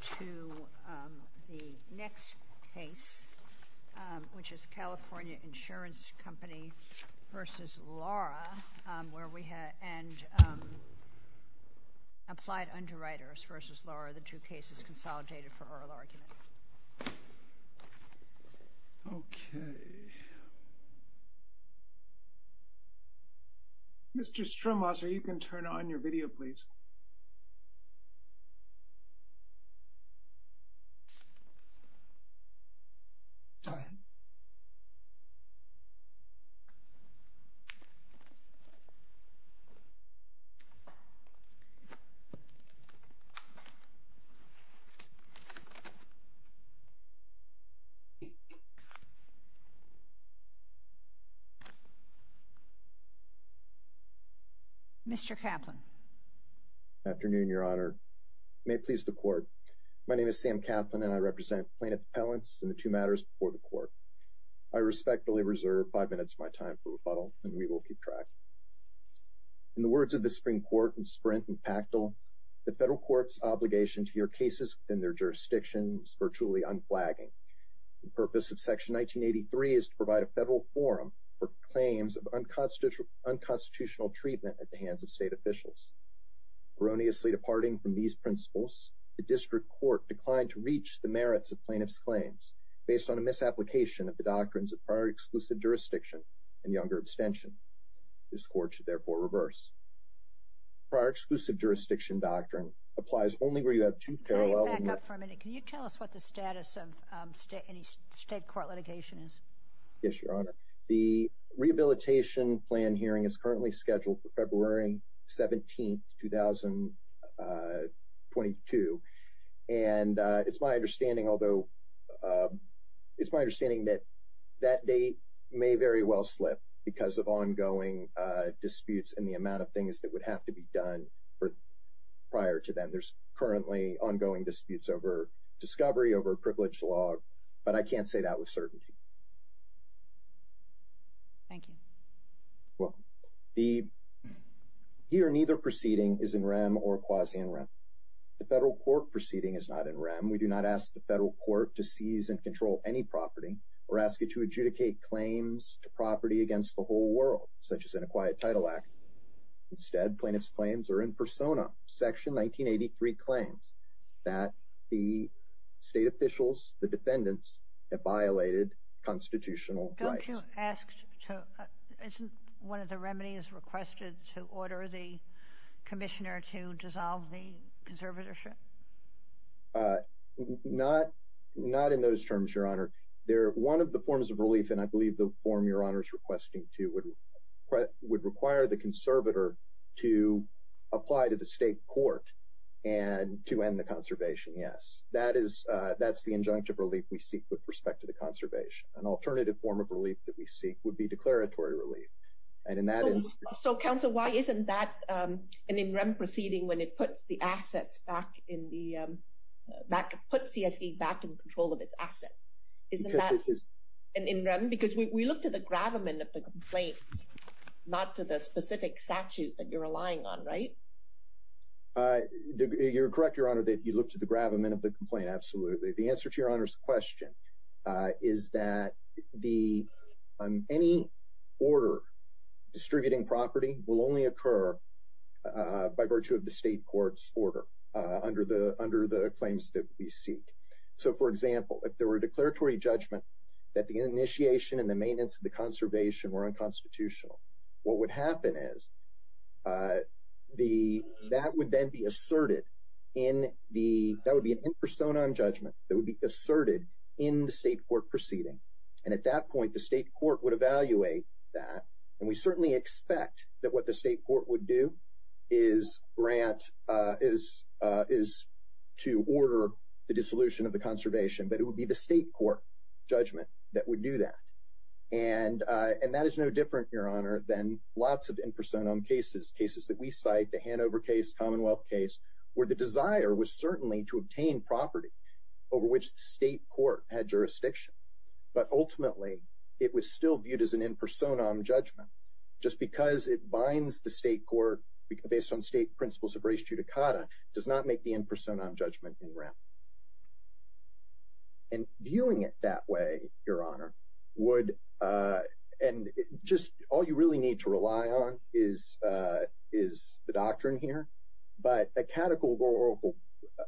to the next case, which is California Insurance Company v. Lara and Applied Underwriters v. Mr. Kaplan. Afternoon, Your Honor. May it please the court, my name is Sam Kaplan and I represent plaintiff appellants in the two matters before the court. I respectfully reserve five minutes of my time for rebuttal and we will keep track. In the words of the Supreme Court in Sprint and Pactel, the federal court's obligation to your cases in their jurisdictions are truly unflagging. The purpose of section 1983 is to provide a federal forum for claims of unconstitutional treatment at the hands of state officials. Erroneously departing from these principles, the district court declined to reach the merits of plaintiff's claims based on a misapplication of the doctrines of prior exclusive jurisdiction and younger abstention. This court should therefore reverse. Prior exclusive jurisdiction doctrine applies only where you have two parallel- Can you back up for a minute? Can you tell us what the status of any state court litigation is? Yes, Your Honor. The rehabilitation plan hearing is currently scheduled for February 17th, 2022 and it's my understanding, although, it's my understanding that that date may very well slip because of ongoing disputes and the amount of things that would have to be done prior to then. There's currently ongoing disputes over discovery, over privilege law, but I can't say that with certainty. Thank you. You're welcome. The he or neither proceeding is in rem or quasi-in rem. The federal court proceeding is not in rem. We do not ask the federal court to seize and control any property or ask it to adjudicate claims to property against the whole world, such as an acquired title act. Instead, plaintiff's claims are in persona. Section 1983 claims that the state officials, the defendants, have violated constitutional rights. Don't you ask to, isn't one of the remedies requested to order the commissioner to dissolve the conservatorship? Not, not in those terms, Your Honor. One of the forms of relief, and I believe the form Your Honor is requesting to, would require the conservator to apply to the state court and to end the conservation, yes. That is, that's the injunctive relief we seek with respect to the conservation. An alternative form of relief that we seek would be declaratory relief. And in that instance... So, so counsel, why isn't that an in rem proceeding when it puts the assets back in the, back, puts CSE back in control of its assets? Isn't that an in rem? Because we, we look to the gravamen of the complaint, not to the specific statute that you're relying on, right? You're correct, Your Honor, that you look to the gravamen of the complaint. Absolutely. The answer to Your Honor's question is that the, um, any order distributing property will only occur, uh, by virtue of the state court's order, uh, under the, under the claims that we seek. So, for example, if there were a declaratory judgment that the initiation and the maintenance of the conservation were unconstitutional, what would happen is, uh, the, that would then be asserted in the, that would be an infrastone on judgment that would be asserted in the state court proceeding. And at that point, the state court would evaluate that. And we certainly expect that what the state court would do is grant, uh, is, uh, is to order the dissolution of the conservation, but it would be the state court judgment that would do that. And, uh, and that is no different, Your Honor, than lots of infrastone on cases, cases that we cite, the Hanover case, Commonwealth case, where the desire was certainly to obtain property over which the state court had jurisdiction, but ultimately it was still viewed as an infrastone on judgment. Just because it binds the state court based on state principles of race judicata does not make the infrastone on judgment in rem. And viewing it that way, Your Honor, would, uh, and just all you really need to rely on is, uh, is the doctrine here, but a categorical,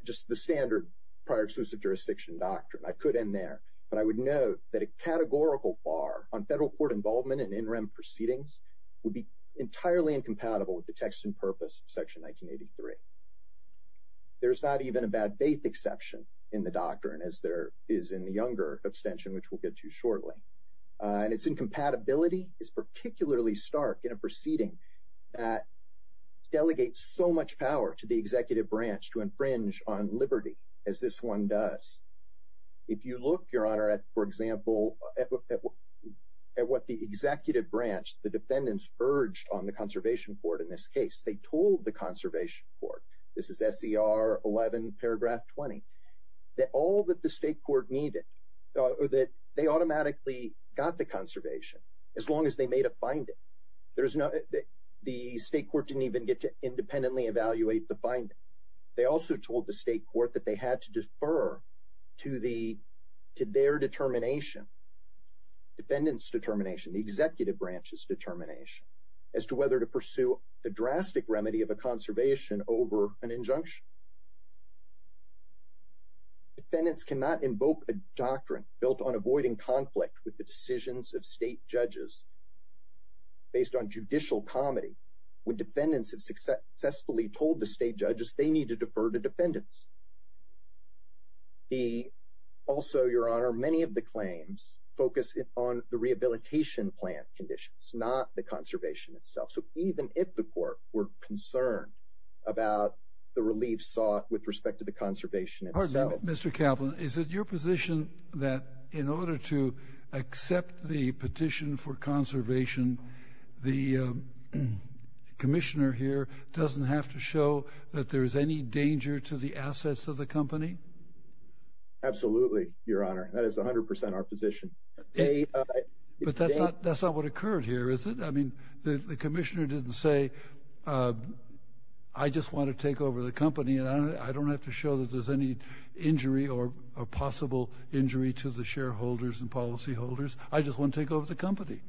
just the standard prior exclusive jurisdiction doctrine, I could end there, but I would know that a categorical bar on federal court involvement in in rem proceedings would be entirely incompatible with the text and purpose of section 1983. There's not even a bad faith exception in the doctrine as there is in the younger extension, which we'll get to shortly. Uh, and it's incompatibility is particularly stark in a proceeding that delegates so much power to the executive branch to infringe on liberty as this one does. If you look, Your Honor, at, for example, at what the executive branch, the defendants urged on the conservation court in this case, they told the conservation court, this is the, got the conservation as long as they made a finding. There's no, the state court didn't even get to independently evaluate the finding. They also told the state court that they had to defer to the, to their determination, dependents determination, the executive branches determination as to whether to pursue the drastic remedy of a conservation over an injunction. Defendants cannot invoke a doctrine built on avoiding conflict with the decisions of state judges based on judicial comedy. When defendants have successfully told the state judges they need to defer to defendants. The also Your Honor, many of the claims focus on the rehabilitation plan conditions, not the conservation itself. So even if the court were concerned about the relief sought with respect to the conservation itself. Pardon me, Mr. Kaplan, is it your position that in order to accept the petition for conservation, the commissioner here doesn't have to show that there is any danger to the assets of the company? Absolutely. Your Honor, that is a hundred percent our position, but that's not, that's not what occurred here, is it? I mean, the commissioner didn't say, uh, I just want to take over the company and I don't have to show that there's any injury or a possible injury to the shareholders and policy holders. I just want to take over the company.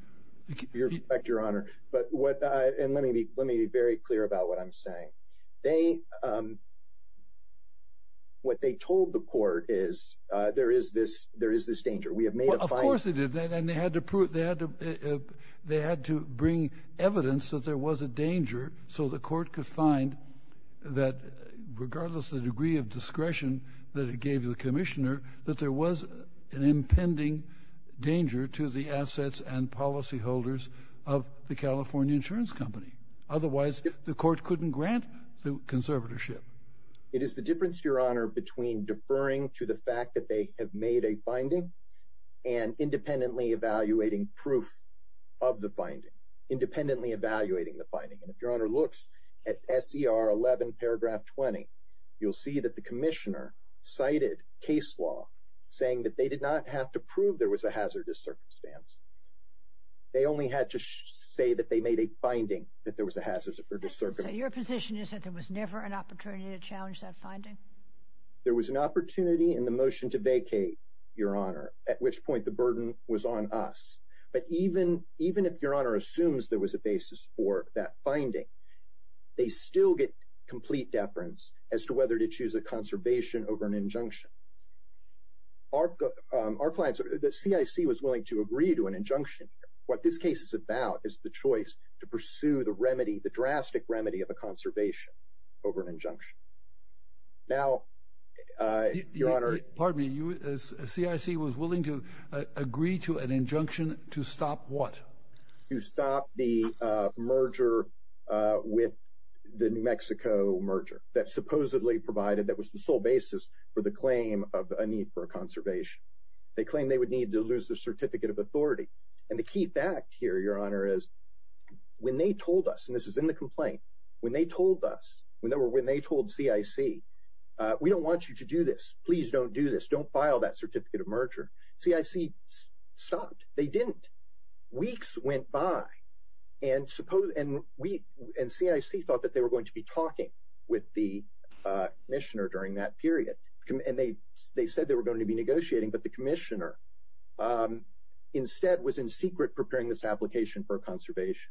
Your Honor, but what I, and let me be, let me be very clear about what I'm saying. They, um, what they told the court is, uh, there is this, there is this danger we have and they had to prove that they had to bring evidence that there was a danger. So the court could find that regardless of the degree of discretion that it gave the commissioner that there was an impending danger to the assets and policy holders of the California insurance company. Otherwise the court couldn't grant the conservatorship. It is the difference, your Honor, between deferring to the fact that they have made a finding and independently evaluating proof of the finding, independently evaluating the finding. And if your Honor looks at SDR 11 paragraph 20, you'll see that the commissioner cited case law saying that they did not have to prove there was a hazardous circumstance. They only had to say that they made a finding that there was a hazardous circumstance. Your position is that there was never an opportunity to challenge that finding? There was an opportunity in the motion to vacate, your Honor, at which point the burden was on us. But even, even if your Honor assumes there was a basis for that finding, they still get complete deference as to whether to choose a conservation over an injunction. Our clients, the CIC was willing to agree to an injunction. What this case is about is the choice to pursue the remedy, the drastic remedy of a conservation over an injunction. Now, your Honor, pardon me, CIC was willing to agree to an injunction to stop what? To stop the merger with the New Mexico merger that supposedly provided, that was the sole basis for the claim of a need for a conservation. They claimed they would need to lose their certificate of authority. And the key fact here, your Honor, is when they told us, and this is in the complaint, when they told us, when they were, when they told CIC, we don't want you to do this, please don't do this, don't file that certificate of merger, CIC stopped, they didn't. Weeks went by and suppose, and we, and CIC thought that they were going to be talking with the commissioner during that period, and they said they were going to be negotiating, but the commissioner instead was in secret preparing this application for a conservation.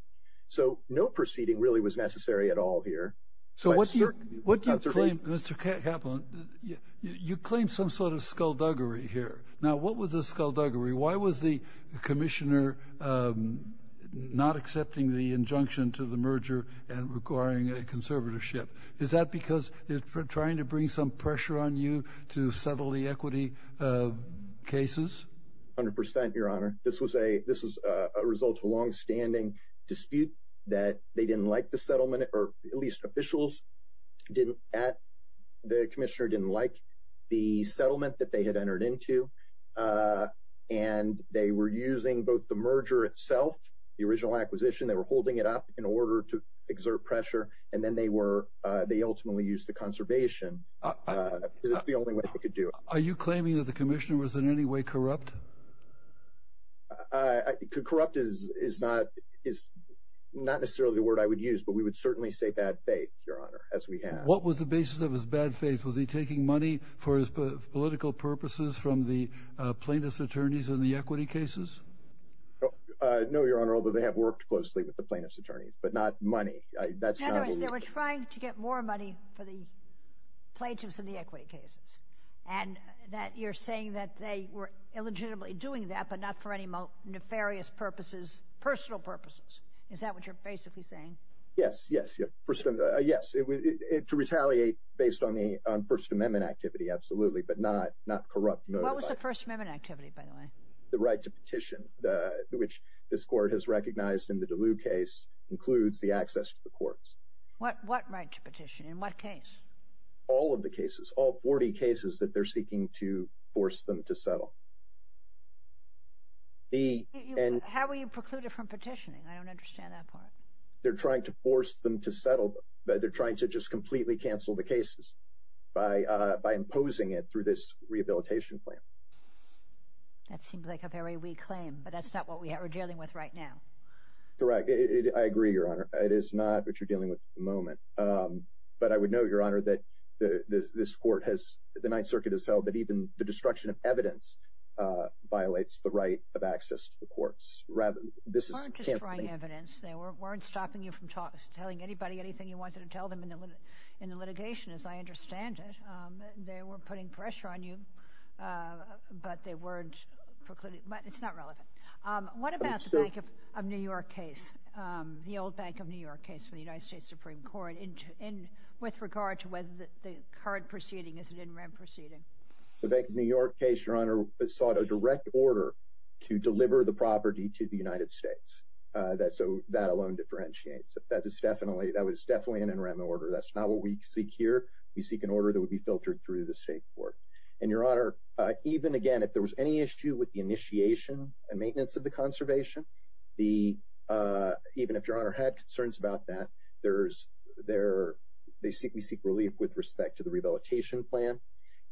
So no proceeding really was necessary at all here. So what do you, what do you claim, Mr. Caplan? You claim some sort of skullduggery here. Now what was the skullduggery? Why was the commissioner not accepting the injunction to the merger and requiring a conservatorship? Is that because they're trying to bring some pressure on you to settle the equity cases? A hundred percent, your Honor. This was a, this was a result of a longstanding dispute that they didn't like the settlement, or at least officials didn't, the commissioner didn't like the settlement that they had entered into, and they were using both the merger itself, the original acquisition, they were holding it up in order to exert pressure, and then they were, they ultimately used the conservation, because it's the only way they could do it. Are you claiming that the commissioner was in any way corrupt? Uh, corrupt is, is not, is not necessarily the word I would use, but we would certainly say bad faith, your Honor, as we have. What was the basis of his bad faith? Was he taking money for his political purposes from the plaintiff's attorneys in the equity cases? Uh, no, your Honor, although they have worked closely with the plaintiff's attorneys, but not money. That's not what we- In other words, they were trying to get more money for the plaintiffs in the equity cases, and that you're saying that they were illegitimately doing that, but not for any nefarious purposes, personal purposes. Is that what you're basically saying? Yes, yes, yes, personal, uh, yes, it, it, to retaliate based on the, on First Amendment activity, absolutely, but not, not corrupt, no. What was the First Amendment activity, by the way? The right to petition, uh, which this court has recognized in the Duluth case includes the access to the courts. What, what right to petition, in what case? All of the cases, all 40 cases that they're seeking to force them to settle. The- How were you precluded from petitioning? I don't understand that part. They're trying to force them to settle, but they're trying to just completely cancel the cases by, uh, by imposing it through this rehabilitation plan. That seems like a very weak claim, but that's not what we are dealing with right now. Correct, it, it, I agree, your Honor, it is not what you're dealing with at the moment, um, but I would note, your Honor, that the, the, this court has, the Ninth Circuit has held that even the destruction of evidence, uh, violates the right of access to the courts. Rather, this is- They weren't destroying evidence. They weren't, weren't stopping you from talking, telling anybody anything you wanted to tell them in the, in the litigation, as I understand it. Um, they were putting pressure on you, uh, but they weren't precluding, but it's not relevant. Um, what about the Bank of, of New York case, um, the old Bank of New York case for the Ninth Circuit in, in, with regard to whether the, the current proceeding is an NREM proceeding? The Bank of New York case, your Honor, sought a direct order to deliver the property to the United States. Uh, that, so that alone differentiates, but that is definitely, that was definitely an NREM order. That's not what we seek here. We seek an order that would be filtered through the state court. And your Honor, uh, even again, if there was any issue with the initiation and maintenance of the conservation, the, uh, even if your Honor had concerns about that, there's, there, they seek, we seek relief with respect to the rehabilitation plan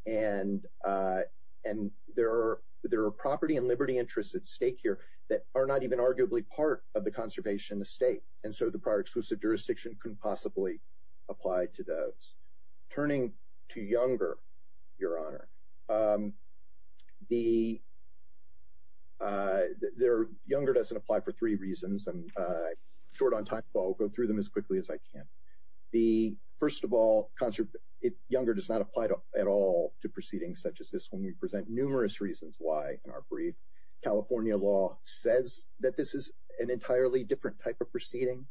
and, uh, and there are, there are property and liberty interests at stake here that are not even arguably part of the conservation estate. And so the prior exclusive jurisdiction couldn't possibly apply to those. Turning to Younger, your Honor, um, the, uh, there, Younger doesn't apply for three reasons and, uh, short on time, but I'll go through them as quickly as I can. The first of all, conservative, it, Younger does not apply to, at all to proceedings such as this one. We present numerous reasons why in our brief, California law says that this is an entirely different type of proceeding.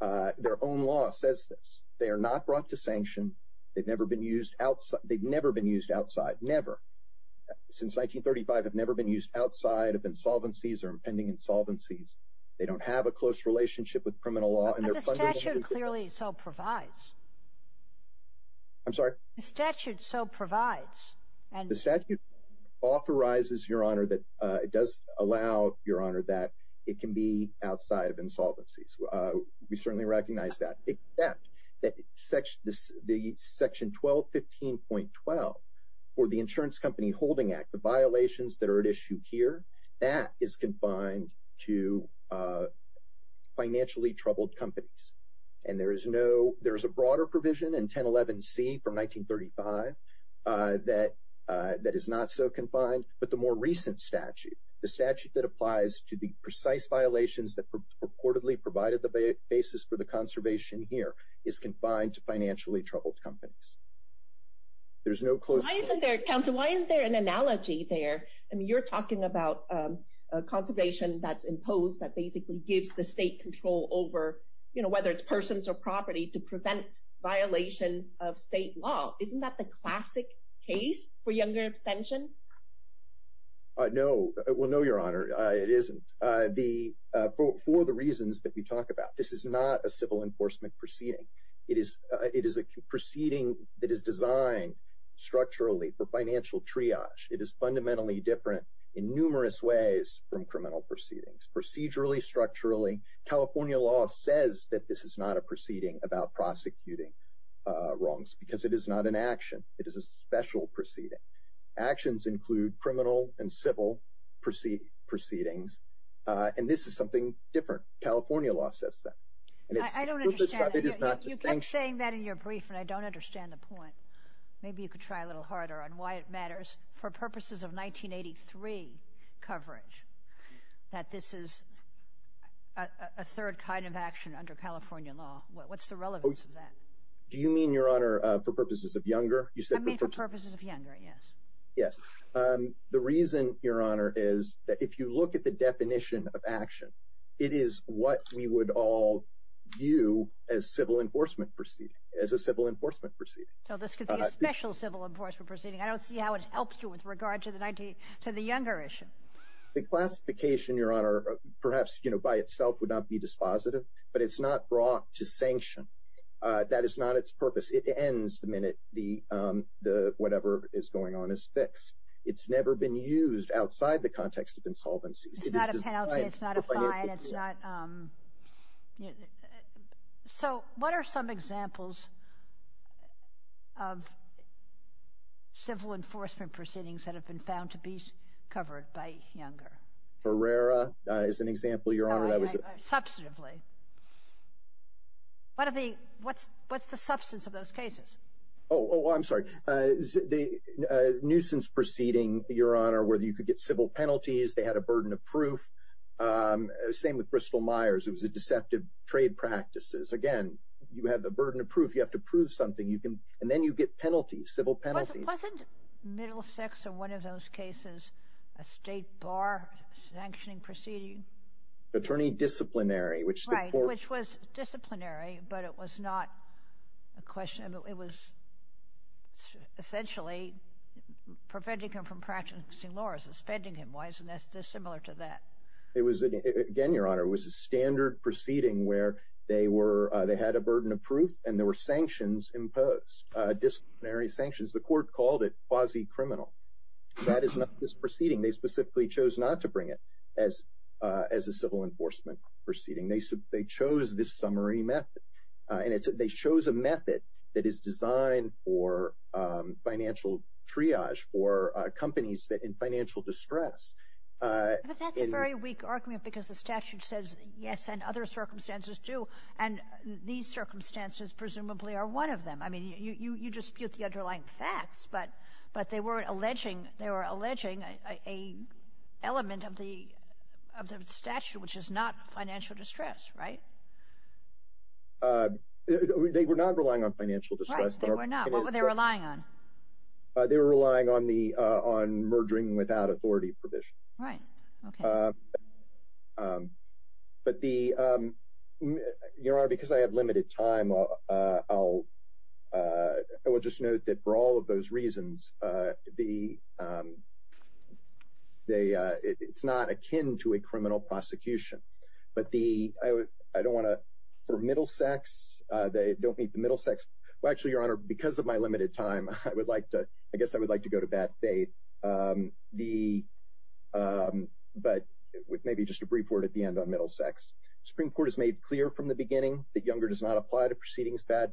Uh, their own law says this. They are not brought to sanction. They've never been used outside. They've never been used outside, never. Since 1935, they've never been used outside of insolvencies or impending insolvencies. They don't have a close relationship with criminal law and they're fundamentally- But the statute clearly so provides. I'm sorry? The statute so provides and- The statute authorizes, your Honor, that, uh, it does allow, your Honor, that it can be outside of insolvencies. Uh, we certainly recognize that. Except that section, the section 1215.12 for the Insurance Company Holding Act, the violations that are at issue here, that is confined to, uh, financially troubled companies. And there is no, there is a broader provision in 1011C from 1935, uh, that, uh, that is not so confined. But the more recent statute, the statute that applies to the precise violations that purportedly provided the basis for the conservation here is confined to financially troubled companies. There's no close- Why isn't there, counsel, why isn't there an analogy there? I mean, you're talking about, um, uh, conservation that's imposed that basically gives the state control over, you know, whether it's persons or property to prevent violations of state law. Isn't that the classic case for younger abstention? Uh, no, well, no, your Honor, uh, it isn't. Uh, the, uh, for, for the reasons that we talked about, this is not a civil enforcement proceeding. It is, uh, it is a proceeding that is designed structurally for financial triage. It is fundamentally different in numerous ways from criminal proceedings, procedurally, structurally. California law says that this is not a proceeding about prosecuting, uh, wrongs because it is not an action. It is a special proceeding. Actions include criminal and civil proceedings, uh, and this is something different. California law says that. And it's- I don't understand. It is not- You kept saying that in your brief, and I don't understand the point. Maybe you could try a little harder on why it matters. For purposes of 1983 coverage, that this is a, a third kind of action under California law. What's the relevance of that? Do you mean, your Honor, uh, for purposes of younger? You said- For purposes of younger. Yes. Yes. Um, the reason, Your Honor, is that if you look at the definition of action, it is what we would all view as civil enforcement proceeding, as a civil enforcement proceeding. So this could be a special civil enforcement proceeding. I don't see how it helps you with regard to the 1983, to the younger issue. The classification, Your Honor, perhaps, you know, by itself would not be dispositive, but it's not brought to sanction. Uh, that is not its purpose. It ends the minute the, um, the, whatever is going on is fixed. It's never been used outside the context of insolvencies. It's not a penalty. It's not a fine. It's not, um, you know, so what are some examples of civil enforcement proceedings that have been found to be covered by younger? Ferrara is an example, Your Honor, that was- Substantively. Substantively. What are the, what's, what's the substance of those cases? Oh, oh, I'm sorry, uh, the, uh, nuisance proceeding, Your Honor, where you could get civil penalties, they had a burden of proof, um, same with Bristol-Myers, it was a deceptive trade practices. Again, you have the burden of proof, you have to prove something, you can, and then you get penalties, civil penalties. Wasn't, wasn't Middlesex in one of those cases a state bar sanctioning proceeding? Attorney disciplinary, which the court- Right, which was disciplinary, but it was not a question, it was essentially preventing him from practicing law, suspending him, why isn't this similar to that? It was, again, Your Honor, it was a standard proceeding where they were, uh, they had a burden of proof and there were sanctions imposed, disciplinary sanctions. The court called it quasi-criminal. That is not this proceeding. They specifically chose not to bring it as, uh, as a civil enforcement proceeding. They, they chose this summary method, uh, and it's, they chose a method that is designed for, um, financial triage for, uh, companies that in financial distress, uh- But that's a very weak argument because the statute says yes and other circumstances do, and these circumstances presumably are one of them. I mean, you, you, you dispute the underlying facts, but, but they weren't alleging, they were alleging a, a element of the, of the statute, which is not financial distress, right? Uh, they were not relying on financial distress. Right, they were not. What were they relying on? Uh, they were relying on the, uh, on merging without authority permission. Right. Okay. Um, but the, um, Your Honor, because I have limited time, uh, uh, I'll, uh, I will just note that for all of those reasons, uh, the, um, they, uh, it, it's not akin to a criminal prosecution, but the, I would, I don't want to, for middle sex, uh, they don't meet the middle sex. Well, actually, Your Honor, because of my limited time, I would like to, I guess I would like to go to bad faith, um, the, um, but with maybe just a brief word at the end on middle sex, Supreme Court has made clear from the beginning that Younger does not apply to proceedings that,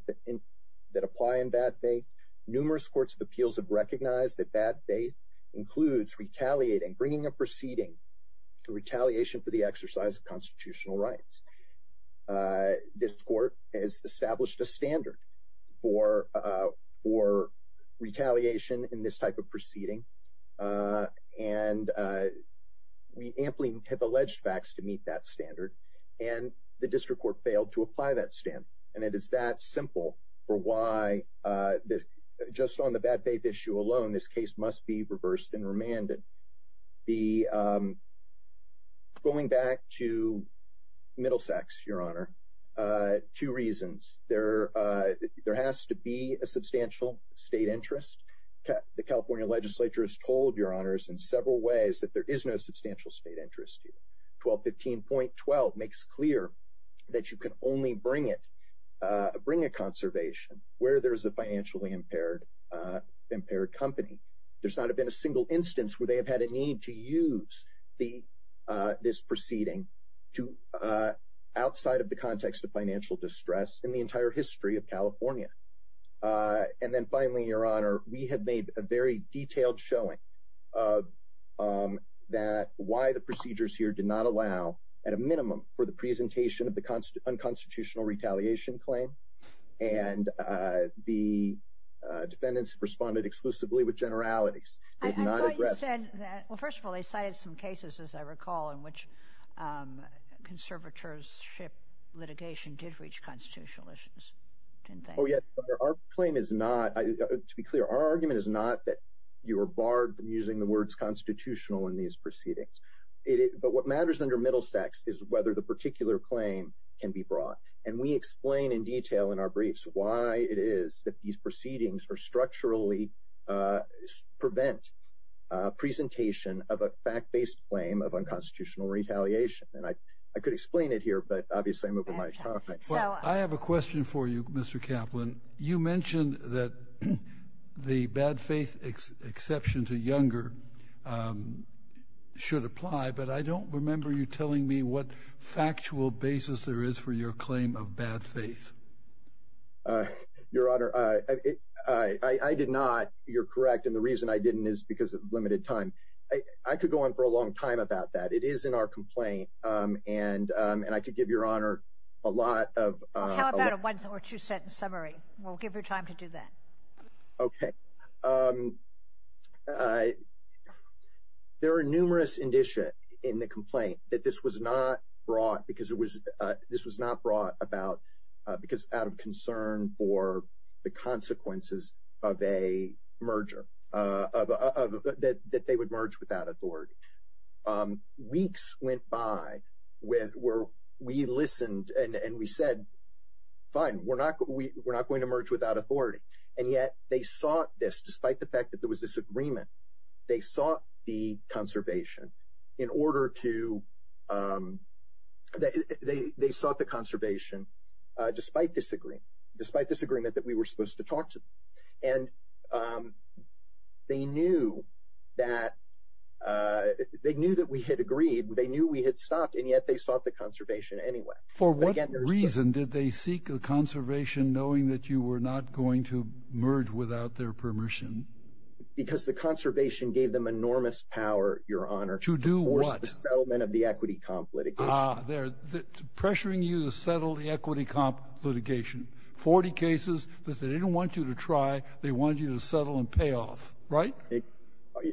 that apply in bad faith. Numerous courts of appeals have recognized that bad faith includes retaliating, bringing a proceeding to retaliation for the exercise of constitutional rights. Uh, this court has established a standard for, uh, for retaliation in this type of proceeding. Uh, and, uh, we amply have alleged facts to meet that standard and the district court has failed to apply that stamp. And it is that simple for why, uh, just on the bad faith issue alone, this case must be reversed and remanded the, um, going back to middle sex, Your Honor, uh, two reasons there, uh, there has to be a substantial state interest. The California legislature has told Your Honors in several ways that there is no substantial state interest. 1215.12 makes clear that you can only bring it, uh, bring a conservation where there's a financially impaired, uh, impaired company. There's not been a single instance where they have had a need to use the, uh, this proceeding to, uh, outside of the context of financial distress in the entire history of California. Uh, and then finally, Your Honor, we have made a very detailed showing of, um, that why the procedures here did not allow at a minimum for the presentation of the unconstitutional retaliation claim. And, uh, the, uh, defendants responded exclusively with generalities. I thought you said that, well, first of all, they cited some cases, as I recall, in which, um, conservatorship litigation did reach constitutional issues, didn't they? Oh, yeah. Our claim is not, to be clear, our argument is not that you are barred from using the words constitutional in these proceedings. But what matters under Middlesex is whether the particular claim can be brought. And we explain in detail in our briefs why it is that these proceedings are structurally, uh, prevent, uh, presentation of a fact-based claim of unconstitutional retaliation. And I, I could explain it here, but obviously I'm over my topic. Well, I have a question for you, Mr. Kaplan. You mentioned that the bad faith ex, exception to Younger, um, should apply, but I don't remember you telling me what factual basis there is for your claim of bad faith. Uh, Your Honor, uh, it, I, I, I did not, you're correct, and the reason I didn't is because of limited time. I, I could go on for a long time about that. It is in our complaint, um, and, um, and I could give Your Honor a lot of, uh, How about a one or two sentence summary? We'll give you time to do that. Okay. Um, uh, there are numerous indicia in the complaint that this was not brought because it was, uh, this was not brought about, uh, because out of concern for the consequences of a merger, uh, of, of, that, that they would merge without authority. Um, weeks went by with where we listened and, and we said, fine, we're not, we're not going to merge without authority. And yet they sought this, despite the fact that there was this agreement, they sought the conservation in order to, um, they, they, they sought the conservation, uh, despite this agreement, despite this agreement that we were supposed to talk to them. And, um, they knew that, uh, they knew that we had agreed, they knew we had stopped and yet they sought the conservation anyway. For what reason did they seek a conservation knowing that you were not going to merge without their permission? Because the conservation gave them enormous power, Your Honor. To do what? To force the settlement of the equity comp litigation. Ah, they're pressuring you to settle the equity comp litigation. Forty cases that they didn't want you to try, they wanted you to settle and pay off. Right?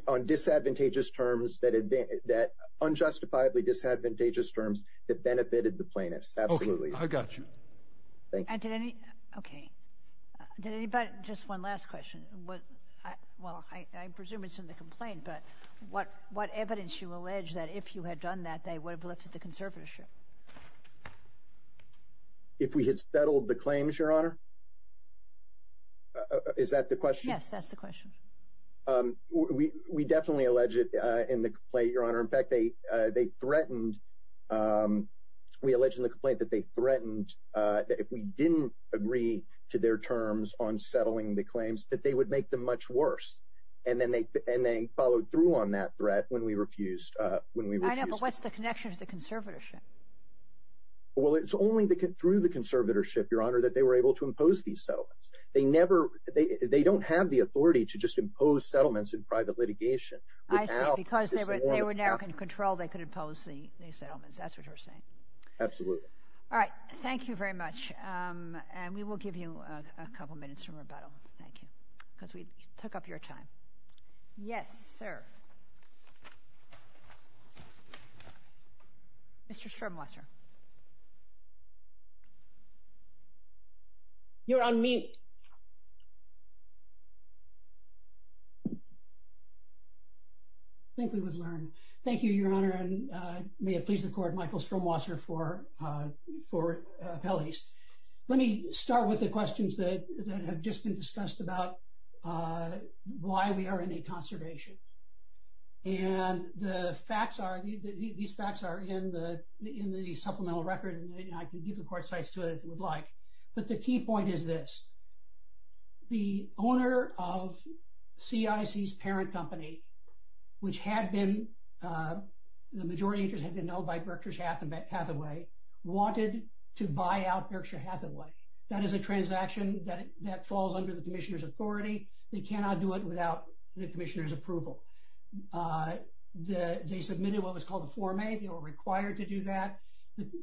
On disadvantageous terms that had been, that unjustifiably disadvantageous terms that benefited the plaintiffs. Absolutely. Okay. I got you. Thank you. And did any, okay. Did anybody, just one last question. What, I, well, I, I presume it's in the complaint, but what, what evidence you allege that if you had done that, they would have looked at the conservatorship? If we had settled the claims, Your Honor? Is that the question? Yes. That's the question. Um, we, we definitely allege it, uh, in the complaint, Your Honor. In fact, they, uh, they threatened, um, we alleged in the complaint that they threatened, uh, that if we didn't agree to their terms on settling the claims, that they would make them much worse. And then they, and they followed through on that threat when we refused, uh, when we refused. I know. But what's the connection to the conservatorship? Well, it's only the, through the conservatorship, Your Honor, that they were able to impose these settlements. They never, they, they don't have the authority to just impose settlements in private litigation without. I see. Because they were, they were now in control. They could impose the, the settlements. That's what you're saying. Absolutely. All right. Thank you very much. Um, and we will give you a couple minutes to rebuttal. Thank you. Because we took up your time. Yes, sir. Mr. Stromwasser. You're on mute. I think we would learn. Thank you, Your Honor. And, uh, may it please the Court, Michael Stromwasser for, uh, for, uh, appellees. Let me start with the questions that have just been discussed about, uh, why we are in a conservation. And the facts are, these facts are in the, in the supplemental record and I can give the Court sites to it if you would like. But the key point is this. The owner of CIC's parent company, which had been, uh, the majority of interest had been held by Berkshire Hathaway, wanted to buy out Berkshire Hathaway. That is a transaction that, that falls under the Commissioner's authority. They cannot do it without the Commissioner's approval. Uh, the, they submitted what was called a form A. They were required to do that.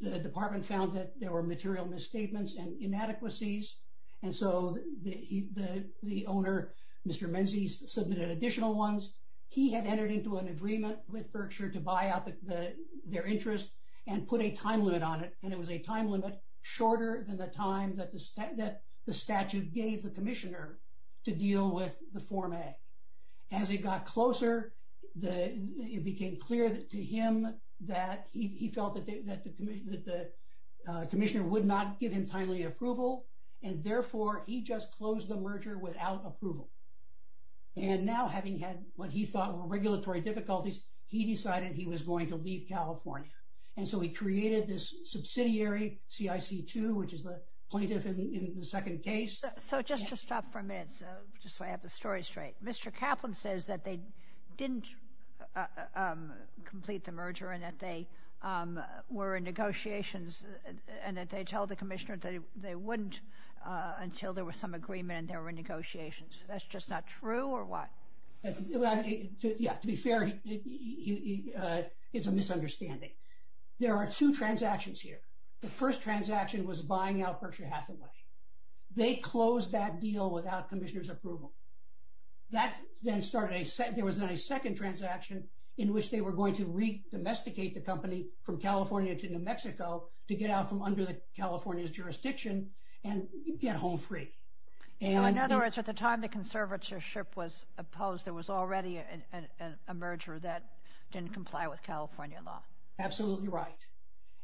The Department found that there were material misstatements and inadequacies. And so the, the, the owner, Mr. Menzies submitted additional ones. He had entered into an agreement with Berkshire to buy out the, the, their interest and put a time limit on it. And it was a time limit shorter than the time that the, that the statute gave the Commissioner to deal with the form A. As it got closer, the, it became clear to him that he, he felt that the, that the, that the, uh, Commissioner would not give him timely approval. And therefore, he just closed the merger without approval. And now, having had what he thought were regulatory difficulties, he decided he was going to leave California. And so he created this subsidiary, CIC2, which is the plaintiff in, in the second case. So just to stop for a minute, so just so I have the story straight. Mr. Kaplan says that they didn't, uh, um, complete the merger and that they, um, were in negotiations and that they told the Commissioner that they, they wouldn't, uh, until there was some agreement and they were in negotiations. That's just not true or what? Yeah, to be fair, he, he, uh, it's a misunderstanding. There are two transactions here. The first transaction was buying out Berkshire Hathaway. They closed that deal without Commissioner's approval. That then started a second, there was then a second transaction in which they were going to re-domesticate the company from California to New Mexico to get out from under the California's jurisdiction and get home free. In other words, at the time the conservatorship was opposed, there was already a merger that didn't comply with California law. Absolutely right.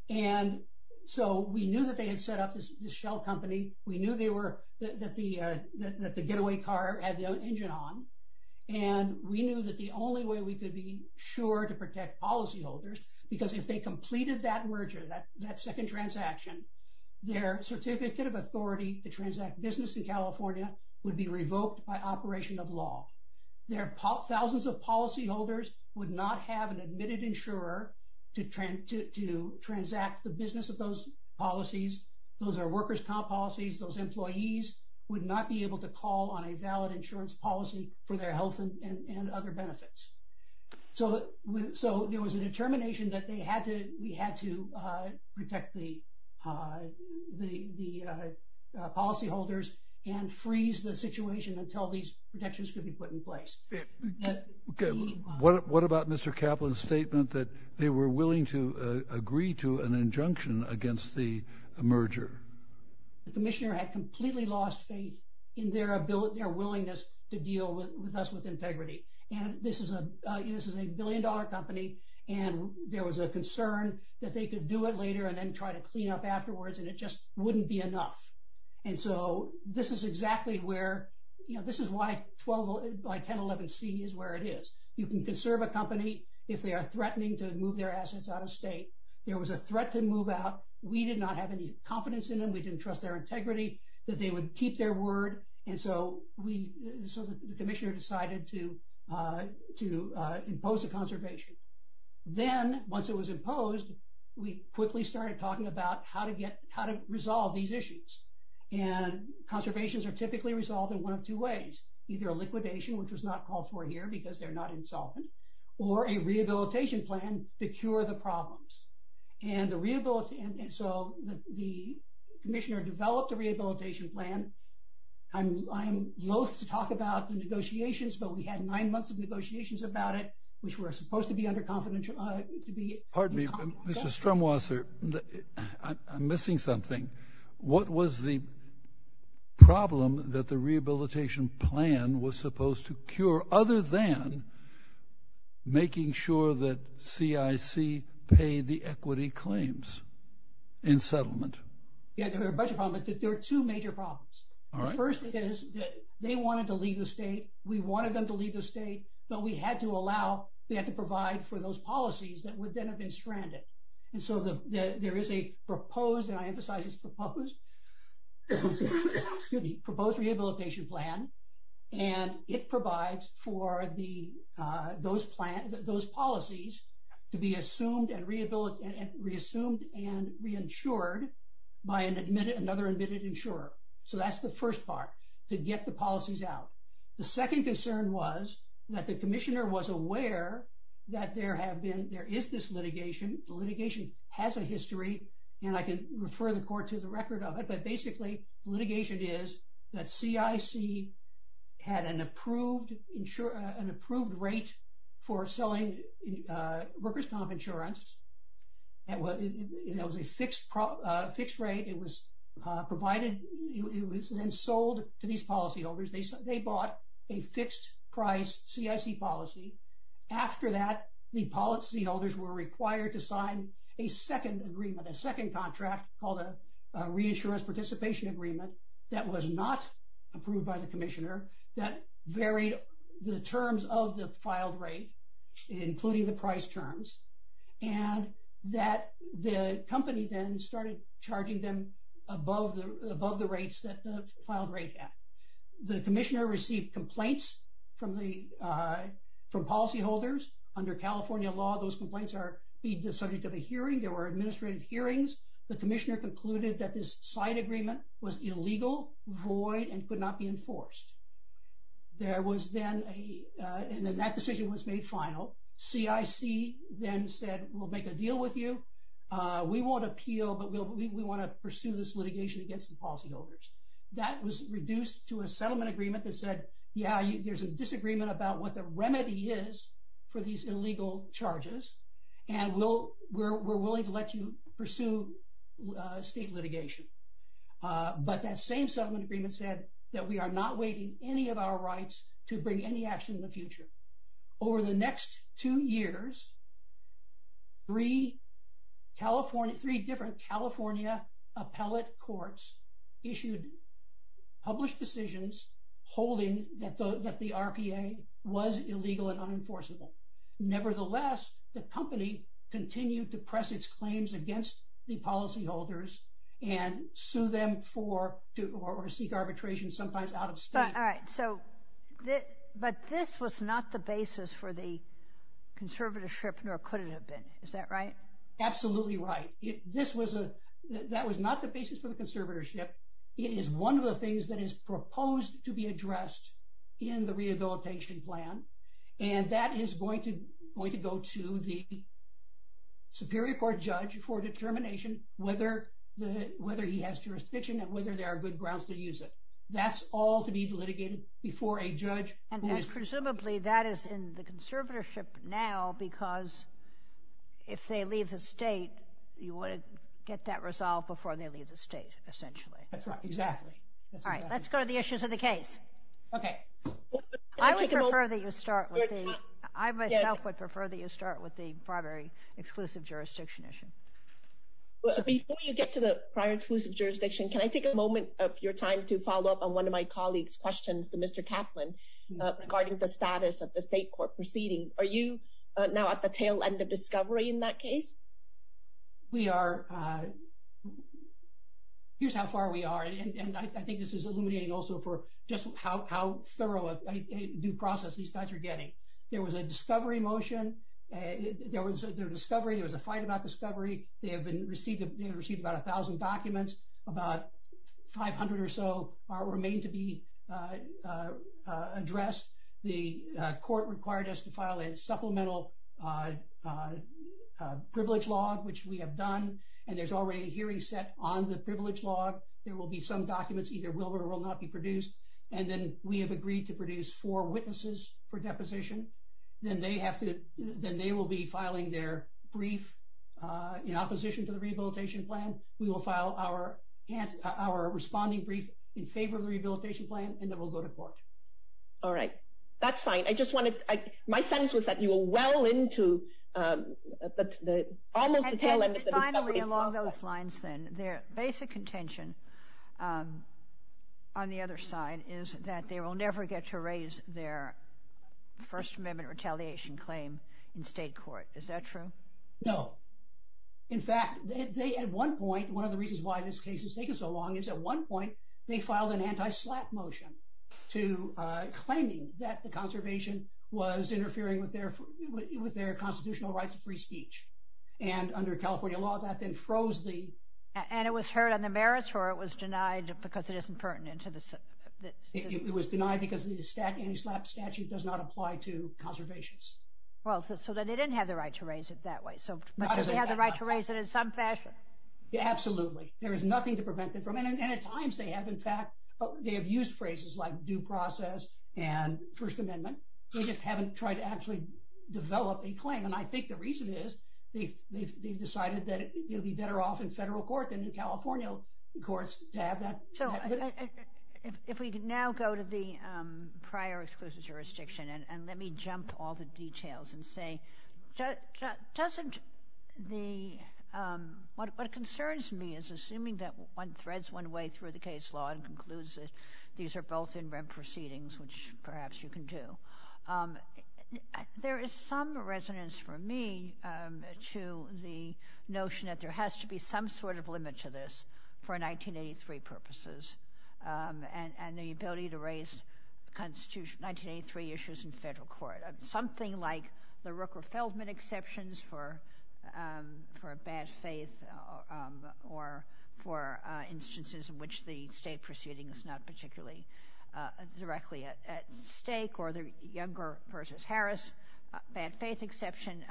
And so we knew that they had set up this shell company. We knew they were, that the, uh, that the getaway car had the engine on. And we knew that the only way we could be sure to protect policyholders, because if they completed that merger, that, that second transaction, their certificate of authority to transact business in California would be revoked by operation of law. Thousands of policyholders would not have an admitted insurer to transact the business of those policies. Those are workers' comp policies. Those employees would not be able to call on a valid insurance policy for their health and other benefits. So there was a determination that they had to, we had to protect the policyholders and freeze the situation until these protections could be put in place. What about Mr. Kaplan's statement that they were willing to agree to an injunction against the merger? The commissioner had completely lost faith in their ability, their willingness to deal with us with integrity. And this is a, this is a billion dollar company. And there was a concern that they could do it later and then try to clean up afterwards and it just wouldn't be enough. And so this is exactly where, you know, this is why 1011C is where it is. You can conserve a company if they are threatening to move their assets out of state. There was a threat to move out. We did not have any confidence in them. We didn't trust their integrity, that they would keep their word. And so we, so the commissioner decided to impose a conservation. Then, once it was imposed, we quickly started talking about how to get, how to resolve these issues. And conservations are typically resolved in one of two ways. Either a liquidation, which was not called for here because they're not insolvent, or a rehabilitation plan to cure the problems. And the, so the commissioner developed a rehabilitation plan. I'm loath to talk about the negotiations, but we had nine months of negotiations about it, which were supposed to be under confidentiality. Pardon me, Mr. Strumwasser, I'm missing something. What was the problem that the rehabilitation plan was supposed to cure other than making sure that CIC paid the equity claims in settlement? Yeah, there were a bunch of problems, but there were two major problems. The first is that they wanted to leave the state. We wanted them to leave the state, but we had to allow, we had to provide for those policies that would then have been stranded. And so there is a proposed, and I emphasize it's proposed, excuse me, proposed rehabilitation plan, and it provides for those policies to be assumed and reassumed and reinsured by another admitted insurer. So that's the first part, to get the policies out. The second concern was that the commissioner was aware that there have been, there is this litigation, the litigation has a history, and I can refer the court to the record of litigation is that CIC had an approved rate for selling workers' comp insurance. That was a fixed rate. It was provided, it was then sold to these policyholders. They bought a fixed price CIC policy. After that, the policyholders were required to sign a second agreement, a second contract called a reinsurance participation agreement that was not approved by the commissioner that varied the terms of the filed rate, including the price terms, and that the company then started charging them above the rates that the filed rate had. The commissioner received complaints from policyholders. Under California law, those complaints are subject to a hearing. There were administrative hearings. The commissioner concluded that this signed agreement was illegal, void, and could not be enforced. There was then a, and then that decision was made final. CIC then said, we'll make a deal with you. We won't appeal, but we want to pursue this litigation against the policyholders. That was reduced to a settlement agreement that said, yeah, there's a disagreement about what the remedy is for these illegal charges, and we'll, we're willing to let you pursue state litigation. But that same settlement agreement said that we are not waiting any of our rights to bring any action in the future. Over the next two years, three California, three different California appellate courts issued, published decisions holding that the RPA was illegal and unenforceable. Nevertheless, the company continued to press its claims against the policyholders and sue them for, or seek arbitration sometimes out of state. All right, so, but this was not the basis for the conservatorship, nor could it have been. Is that right? Absolutely right. This was a, that was not the basis for the conservatorship. It is one of the things that is proposed to be addressed in the rehabilitation plan, and that is going to, going to go to the superior court judge for determination whether the, whether he has jurisdiction and whether there are good grounds to use it. That's all to be litigated before a judge. And presumably that is in the conservatorship now because if they leave the state, you want to get that resolved before they leave the state, essentially. That's right, exactly. All right, let's go to the issues of the case. Okay. I would prefer that you start with the, I myself would prefer that you start with the primary exclusive jurisdiction issue. Before you get to the prior exclusive jurisdiction, can I take a moment of your time to follow up on one of my colleagues' questions to Mr. Kaplan regarding the status of the state court proceedings? Are you now at the tail end of discovery in that case? We are, here's how far we are, and I think this is illuminating also for just how thorough a due process these guys are getting. There was a discovery motion. There was a discovery, there was a fight about discovery. They have received about a thousand documents. About 500 or so remain to be addressed. The court required us to file a supplemental privilege log, which we have done. And there's already a hearing set on the privilege log. There will be some documents either will or will not be produced. And then we have agreed to produce four witnesses for deposition. Then they will be filing their brief in opposition to the rehabilitation plan. We will file our responding brief in favor of the rehabilitation plan, and then we'll go to court. All right. That's fine. I just wanted, my sense was that you were well into almost the tail end of the discovery process. Their basic contention on the other side is that they will never get to raise their First Amendment retaliation claim in state court. Is that true? No. In fact, they at one point, one of the reasons why this case is taking so long is at one point they filed an anti-SLAPP motion to claiming that the conservation was interfering with their constitutional rights of free speech. And under California law, that then froze the... And it was heard on the merits, or it was denied because it isn't pertinent to the... It was denied because the anti-SLAPP statute does not apply to conservations. Well, so they didn't have the right to raise it that way. So they have the right to raise it in some fashion. Absolutely. There is nothing to prevent it from... And at times they have, in fact, they have used phrases like due process and First Amendment. They just haven't tried to actually develop a claim. And I think the reason is they've decided that they'll be better off in federal court than in California courts to have that... So if we can now go to the prior exclusive jurisdiction and let me jump all the details and say, doesn't the... What concerns me is assuming that one threads one way through the case law and concludes that these are both inbred proceedings, which perhaps you can do. There is some resonance for me to the notion that there has to be some sort of limit to this for 1983 purposes and the ability to raise 1983 issues in federal court. Something like the Rooker-Feldman exceptions for bad faith or for instances in which the state proceeding is not particularly directly at stake or the Younger v. Harris bad faith exception.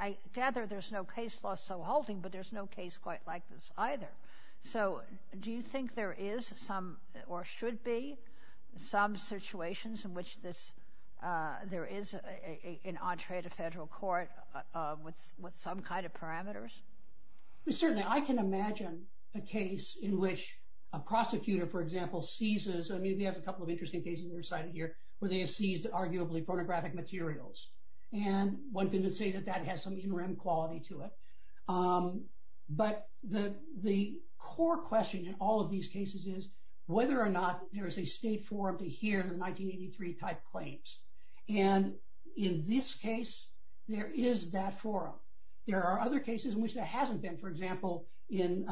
I gather there's no case law so halting, but there's no case quite like this either. So do you think there is some or should be some situations in which there is an entree to federal court with some kind of parameters? Certainly, I can imagine a case in which a prosecutor, for example, seizes... I mean, we have a couple of interesting cases that are cited here where they have seized arguably pornographic materials. And one can say that that has some interim quality to it. But the core question in all of these cases is whether or not there is a state forum to hear the 1983 type claims. And in this case, there is that forum. There are other cases in which there hasn't been. For example, in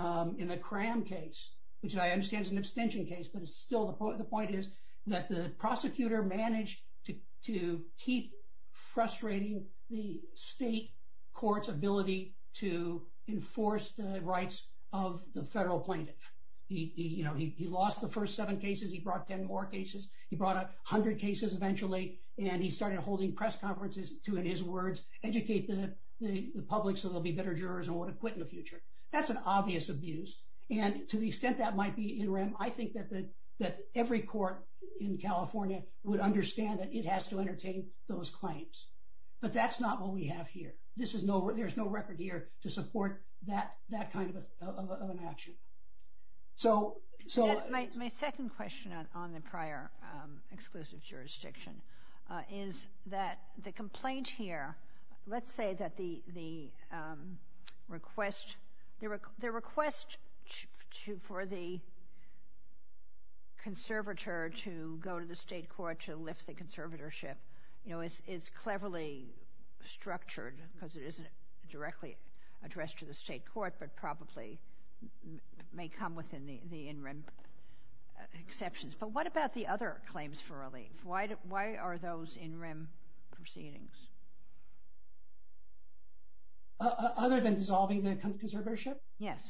the Cram case, which I understand is an abstention case, but still the point is that the prosecutor managed to keep frustrating the state court's ability to enforce the rights of the federal plaintiff. He lost the first seven cases. He brought 10 more cases. He brought up 100 cases eventually. And he started holding press conferences to, in his words, educate the public so they'll be better jurors and would have quit in the future. That's an obvious abuse. And to the extent that might be in rem, I think that every court in California would understand that it has to entertain those claims. But that's not what we have here. There's no record here to support that kind of an action. My second question on the prior exclusive jurisdiction is that the complaint here, let's say that the request for the conservator to go to the state court to lift the conservatorship is cleverly structured because it isn't directly addressed to the state court but probably may come within the in rem exceptions. But what about the other claims for relief? Why are those in rem proceedings? Other than dissolving the conservatorship? Yes.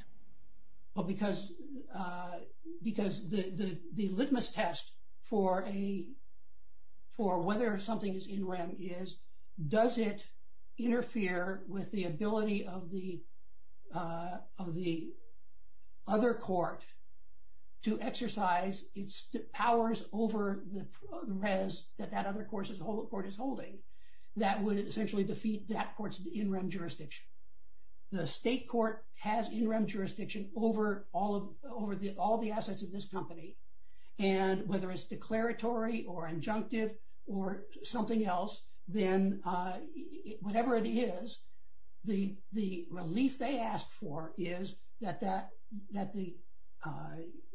Because the litmus test for whether something is in rem is does it interfere with the ability of the other court to exercise its powers over the res that that other court is holding that would essentially defeat that court's in rem jurisdiction. The state court has in rem jurisdiction over all the assets of this company. And whether it's declaratory or injunctive or something else, then whatever it is, the relief they asked for is that the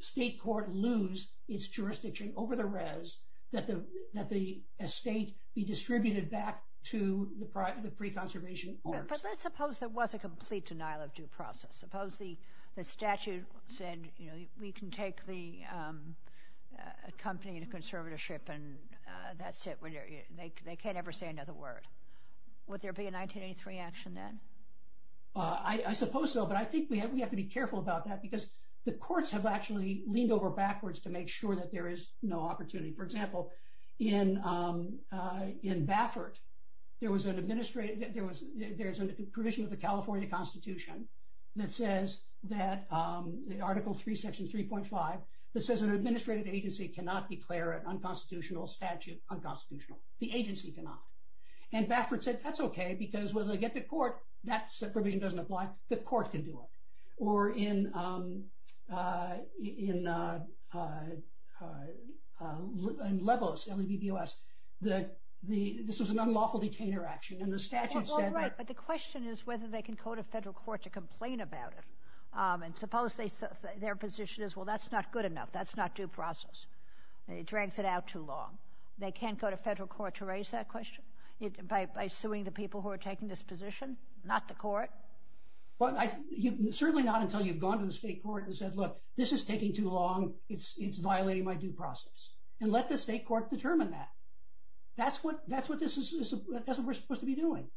state court lose its jurisdiction over the res that the estate be distributed back to the pre-conservation courts. But let's suppose there was a complete denial of due process. Suppose the statute said we can take the company to conservatorship and that's it. They can't ever say another word. Would there be a 1983 action then? I suppose so. But I think we have to be careful about that because the courts have actually leaned over backwards to make sure that there is no opportunity. For example, in Baffert, there was an administrative there's a provision of the California Constitution that says that Article 3, Section 3.5 that says an administrative agency cannot declare an unconstitutional statute unconstitutional. The agency cannot. And Baffert said that's okay because when they get to court, that provision doesn't apply. The court can do it. Or in Lebos, L-E-B-B-O-S, this was an unlawful detainer action and the statute said that. Right, but the question is whether they can go to federal court to complain about it. And suppose their position is, well, that's not good enough. That's not due process. It drags it out too long. They can't go to federal court to raise that question by suing the people who are taking this position, not the court? Well, certainly not until you've gone to the state court and said, look, this is taking too long. It's violating my due process. And let the state court determine that. That's what we're supposed to be doing.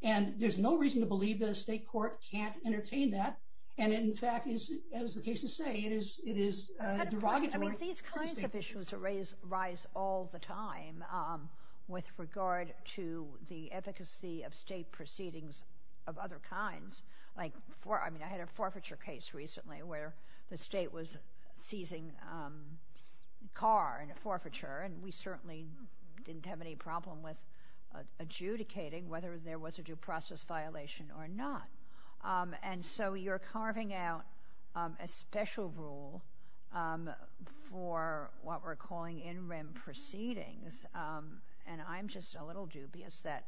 And there's no reason to believe that a state court can't entertain that. And, in fact, as the cases say, it is derogatory. I mean, these kinds of issues arise all the time with regard to the efficacy of state proceedings of other kinds. I mean, I had a forfeiture case recently where the state was seizing a car in a forfeiture, and we certainly didn't have any problem with adjudicating whether there was a due process violation or not. And so you're carving out a special rule for what we're calling in rem proceedings. And I'm just a little dubious that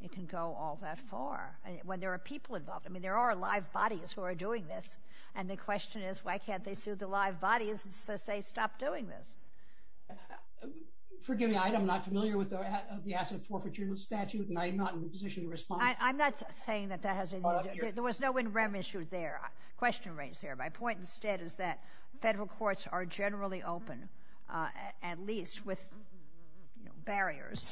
it can go all that far when there are people involved. I mean, there are live bodies who are doing this, and the question is why can't they sue the live bodies and say stop doing this? Forgive me, I'm not familiar with the asset forfeiture statute, and I am not in a position to respond. I'm not saying that that has anything to do with it. There was no in rem issue there, question raised there. My point instead is that federal courts are generally open, at least with barriers,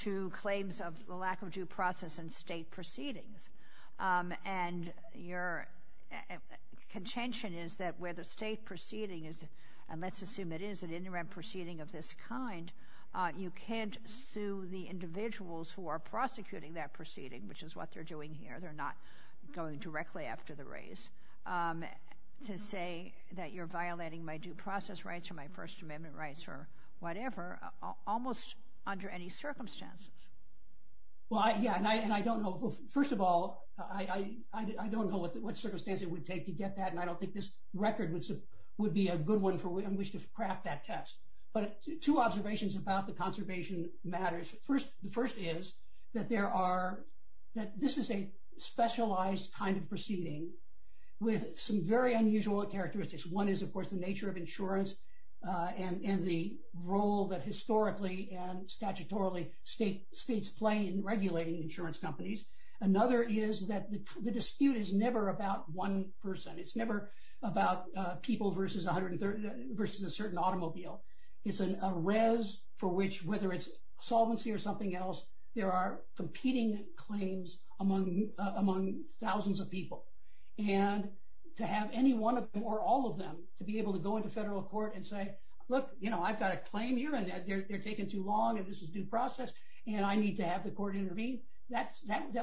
to claims of the lack of due process in state proceedings. And your contention is that where the state proceeding is, and let's assume it is an in rem proceeding of this kind, you can't sue the individuals who are prosecuting that proceeding, which is what they're doing here. They're not going directly after the race, to say that you're violating my due process rights or my First Amendment rights or whatever, almost under any circumstances. Well, yeah, and I don't know. First of all, I don't know what circumstance it would take to get that, and I don't think this record would be a good one in which to craft that text. But two observations about the conservation matters. The first is that this is a specialized kind of proceeding with some very unusual characteristics. One is, of course, the nature of insurance and the role that historically and statutorily states play in regulating insurance companies. Another is that the dispute is never about one person. It's never about people versus a certain automobile. It's a res for which, whether it's solvency or something else, there are competing claims among thousands of people. And to have any one of them or all of them to be able to go into federal court and say, look, I've got a claim here, and they're taking too long, and this is due process, and I need to have the court intervene, that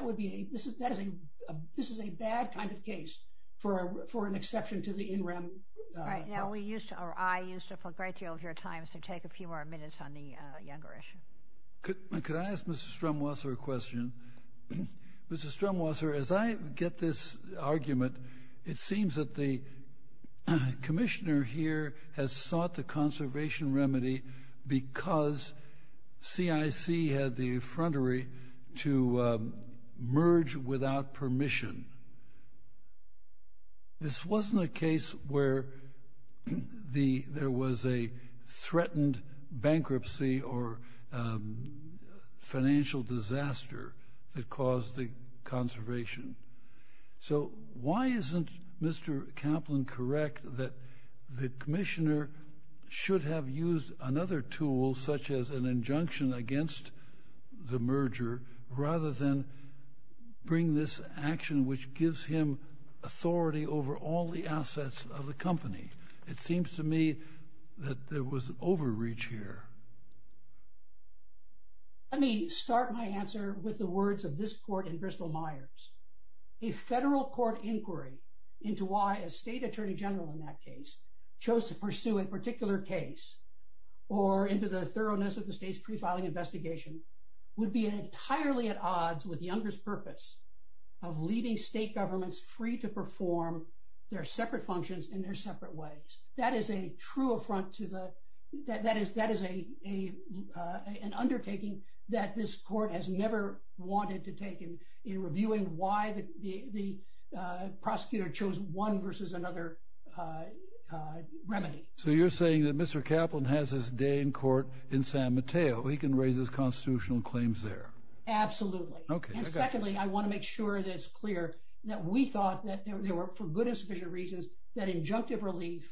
would be a, this is a bad kind of case for an exception to the in rem. Right. I used up a great deal of your time, so take a few more minutes on the younger issue. Could I ask Mr. Strumwasser a question? Mr. Strumwasser, as I get this argument, it seems that the commissioner here has sought the conservation remedy because CIC had the effrontery to merge without permission. This wasn't a case where there was a threatened bankruptcy or financial disaster that caused the conservation. So why isn't Mr. Kaplan correct that the commissioner should have used another tool such as an injunction against the merger rather than bring this action which gives him authority over all the assets of the company? It seems to me that there was overreach here. Let me start my answer with the words of this court in Bristol-Myers. A federal court inquiry into why a state attorney general in that case chose to pursue a particular case or into the thoroughness of the state's pre-filing investigation would be entirely at odds with Younger's purpose of leaving state governments free to perform their separate functions in their separate ways. That is a true affront to the, that is an undertaking that this court has never wanted to take in reviewing why the prosecutor chose one versus another remedy. So you're saying that Mr. Kaplan has his day in court in San Mateo. He can raise his constitutional claims there. Absolutely. Okay. And secondly, I want to make sure that it's clear that we thought that there were, for good and sufficient reasons, that injunctive relief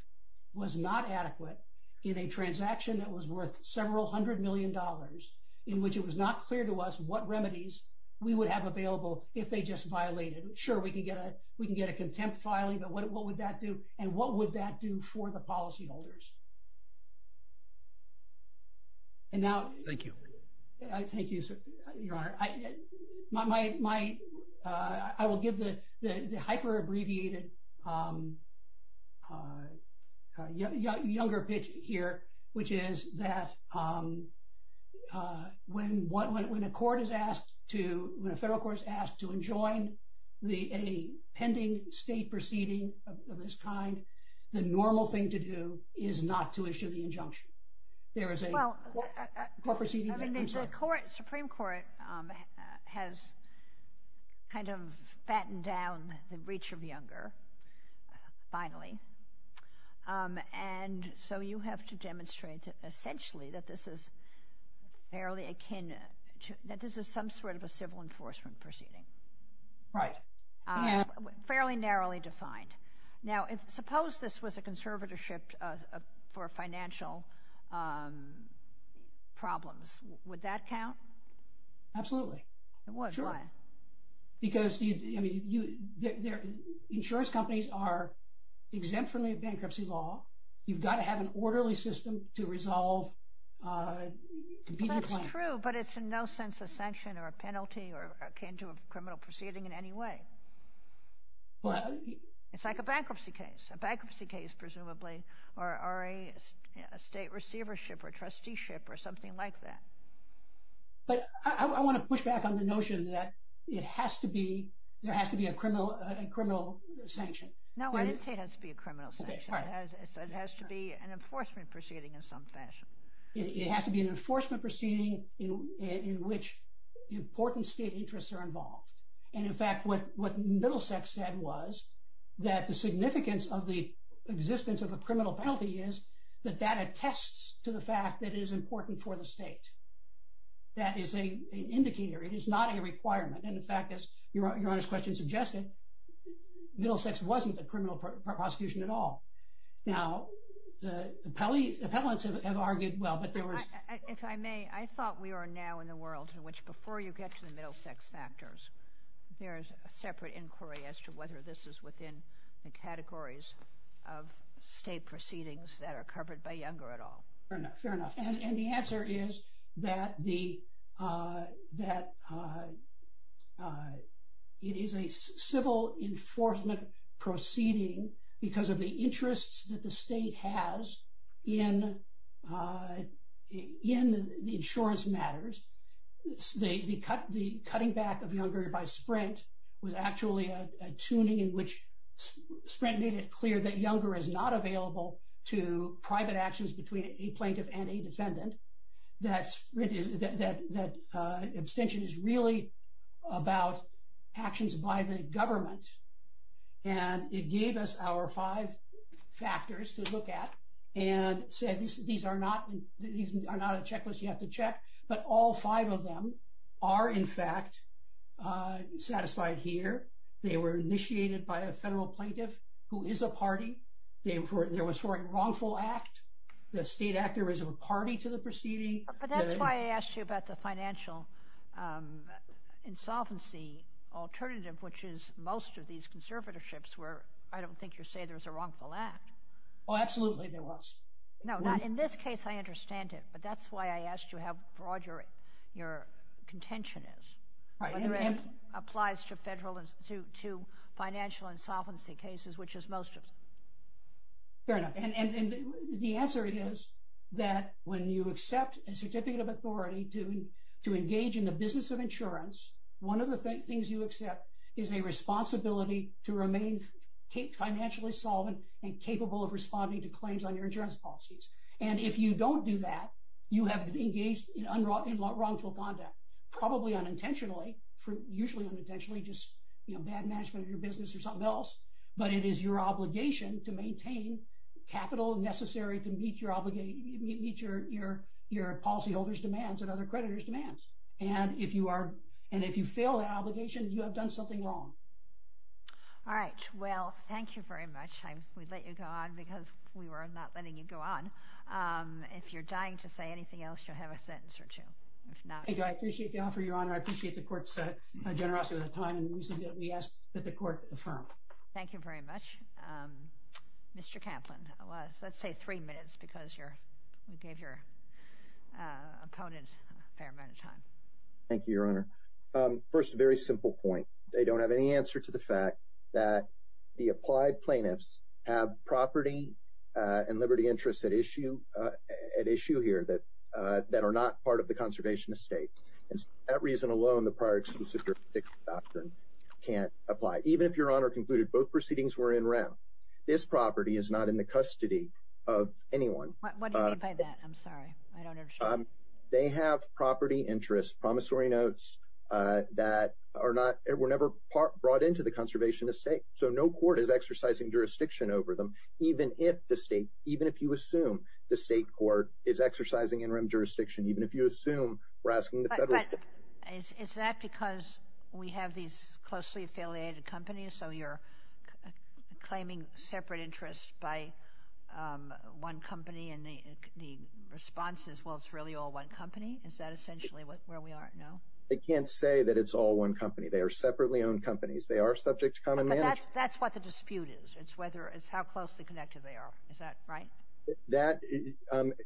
was not adequate in a transaction that was worth several hundred million dollars in which it was not clear to us what remedies we would have available if they just violated. Sure, we can get a contempt filing, but what would that do? And what would that do for the policyholders? Thank you. Thank you, Your Honor. My, I will give the hyper-abbreviated Younger pitch here, which is that when a court is asked to, when a federal court is asked to enjoin a pending state proceeding of this kind, the normal thing to do is not to issue the injunction. There is a court proceeding? I mean, the Supreme Court has kind of fattened down the reach of Younger, finally, and so you have to demonstrate essentially that this is fairly akin, that this is some sort of a civil enforcement proceeding. Right. Fairly narrowly defined. Now, suppose this was a conservatorship for financial problems. Would that count? Absolutely. Sure. Why? Because insurance companies are exempt from any bankruptcy law. You've got to have an orderly system to resolve competing claims. That's true, but it's in no sense a sanction or a penalty or akin to a criminal proceeding in any way. It's like a bankruptcy case, a bankruptcy case, presumably, or a state receivership or trusteeship or something like that. But I want to push back on the notion that it has to be, there has to be a criminal sanction. No, I didn't say it has to be a criminal sanction. It has to be an enforcement proceeding in some fashion. It has to be an enforcement proceeding in which important state interests are involved. And, in fact, what Middlesex said was that the significance of the existence of a criminal penalty is that that attests to the fact that it is important for the state. That is an indicator. It is not a requirement. And, in fact, as Your Honor's question suggested, Middlesex wasn't the criminal prosecution at all. Now, the appellants have argued, well, but there was – If I may, I thought we are now in the world in which before you get to the Middlesex factors, there is a separate inquiry as to whether this is within the categories of state proceedings that are covered by Younger at all. Fair enough. And the answer is that it is a civil enforcement proceeding because of the interests that the state has in the insurance matters. The cutting back of Younger by Sprint was actually a tuning in which Sprint made it clear that Younger is not available to private actions between a plaintiff and a defendant. That abstention is really about actions by the government. And it gave us our five factors to look at and said, these are not a checklist you have to check, but all five of them are, in fact, satisfied here. They were initiated by a federal plaintiff who is a party. There was for a wrongful act. The state actor is a party to the proceeding. But that's why I asked you about the financial insolvency alternative, which is most of these conservatorships where I don't think you say there's a wrongful act. Oh, absolutely there was. No, in this case I understand it, but that's why I asked you how broad your contention is, whether it applies to financial insolvency cases, which is most of them. Fair enough. And the answer is that when you accept a certificate of authority to engage in the business of insurance, one of the things you accept is a responsibility to remain financially solvent and capable of responding to claims on your insurance policies. And if you don't do that, you have engaged in wrongful conduct, probably unintentionally, usually unintentionally, just bad management of your business or something else. But it is your obligation to maintain capital necessary to meet your policyholders' demands and other creditors' demands. And if you fail that obligation, you have done something wrong. All right. Well, thank you very much. We let you go on because we were not letting you go on. If you're dying to say anything else, you'll have a sentence or two. I appreciate the offer, Your Honor. I appreciate the Court's generosity with the time. We ask that the Court affirm. Thank you very much. Mr. Kaplan, let's say three minutes because you gave your opponent a fair amount of time. Thank you, Your Honor. First, a very simple point. They don't have any answer to the fact that the applied plaintiffs have property and liberty interests at issue here that are not part of the conservation estate. And for that reason alone, the prior exclusive jurisdiction doctrine can't apply. Even if Your Honor concluded both proceedings were in round, this property is not in the custody of anyone. What do you mean by that? I'm sorry. I don't understand. They have property interests, promissory notes that were never brought into the conservation estate. So no court is exercising jurisdiction over them, even if you assume the state court is exercising interim jurisdiction, even if you assume we're asking the federal court. But is that because we have these closely affiliated companies, so you're claiming separate interests by one company and the response is, well, it's really all one company? Is that essentially where we are? No? I can't say that it's all one company. They are separately owned companies. They are subject to common management. But that's what the dispute is. It's whether it's how closely connected they are. Is that right? That,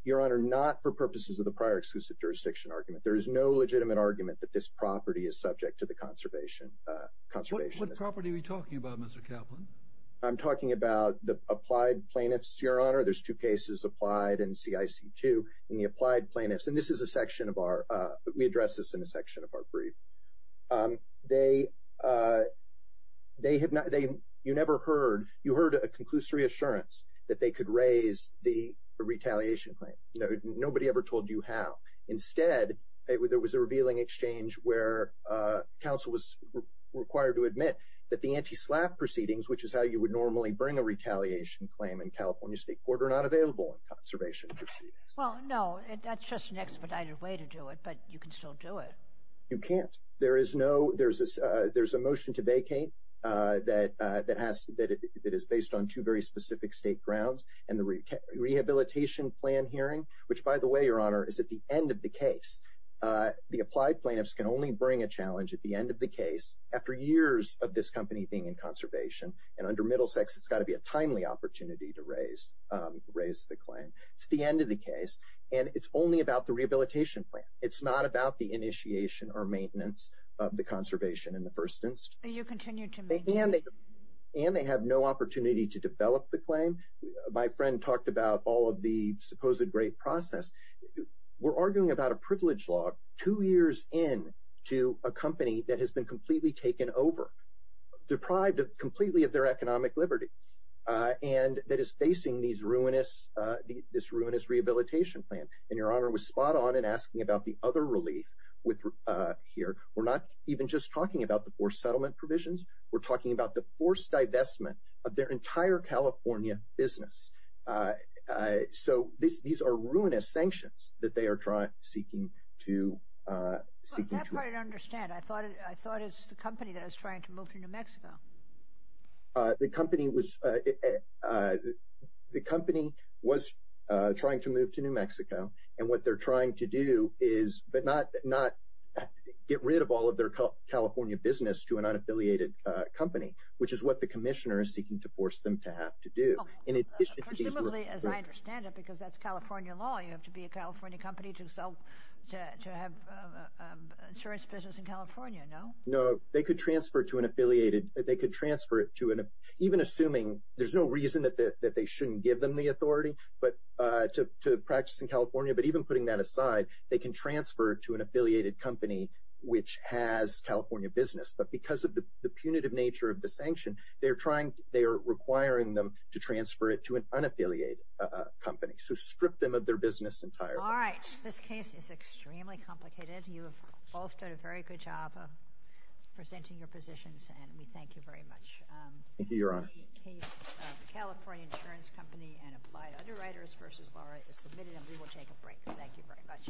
Your Honor, not for purposes of the prior exclusive jurisdiction argument. There is no legitimate argument that this property is subject to the conservation estate. What property are we talking about, Mr. Kaplan? I'm talking about the applied plaintiffs, Your Honor. There's two cases, applied and CIC2. And the applied plaintiffs, and this is a section of our, we address this in a section of our brief. You never heard, you heard a conclusive reassurance that they could raise the retaliation claim. Nobody ever told you how. Instead, there was a revealing exchange where counsel was required to admit that the anti-SLAAF proceedings, which is how you would normally bring a retaliation claim in California state court, are not available in conservation proceedings. Well, no, that's just an expedited way to do it, but you can still do it. You can't. There is no, there's a, there's a motion to vacate that, that has that it is based on two very specific state grounds and the rehabilitation plan hearing, which by the way, Your Honor, is at the end of the case. The applied plaintiffs can only bring a challenge at the end of the case after years of this company being in conservation and under Middlesex, it's gotta be a timely opportunity to raise, raise the claim. It's the end of the case and it's only about the rehabilitation plan. It's not about the initiation or maintenance of the conservation in the first instance. And they have no opportunity to develop the claim. My friend talked about all of the supposed great process. We're arguing about a privilege log two years in to a company that has been completely taken over, deprived of completely of their economic Liberty and that is facing these this ruinous rehabilitation plan. And Your Honor was spot on and asking about the other relief with here. We're not even just talking about the four settlement provisions. We're talking about the forced divestment of their entire California business. So this, these are ruinous sanctions that they are trying seeking to see. I understand. I thought, I thought it's the company that I was trying to move to New Mexico. The company was, the company was trying to move to New Mexico. And what they're trying to do is, but not, not get rid of all of their California business to an unaffiliated company, which is what the commissioner is seeking to force them to have to do. And it, presumably as I understand it, because that's California law, you have to be a California company to sell, to have insurance business in California. No, no, they could transfer to an affiliated, they could transfer it to an, even assuming there's no reason that they shouldn't give them the authority, but to, to practice in California, but even putting that aside, they can transfer to an affiliated company, which has California business. But because of the punitive nature of the sanction, they're trying, they are requiring them to transfer it to an unaffiliated company. So strip them of their business entire. This case is extremely complicated. You have both done a very good job of presenting your positions. And we thank you very much. Thank you, Your Honor. The California Insurance Company and Applied Underwriters v. Laura is submitted and we will take a break. Thank you very much.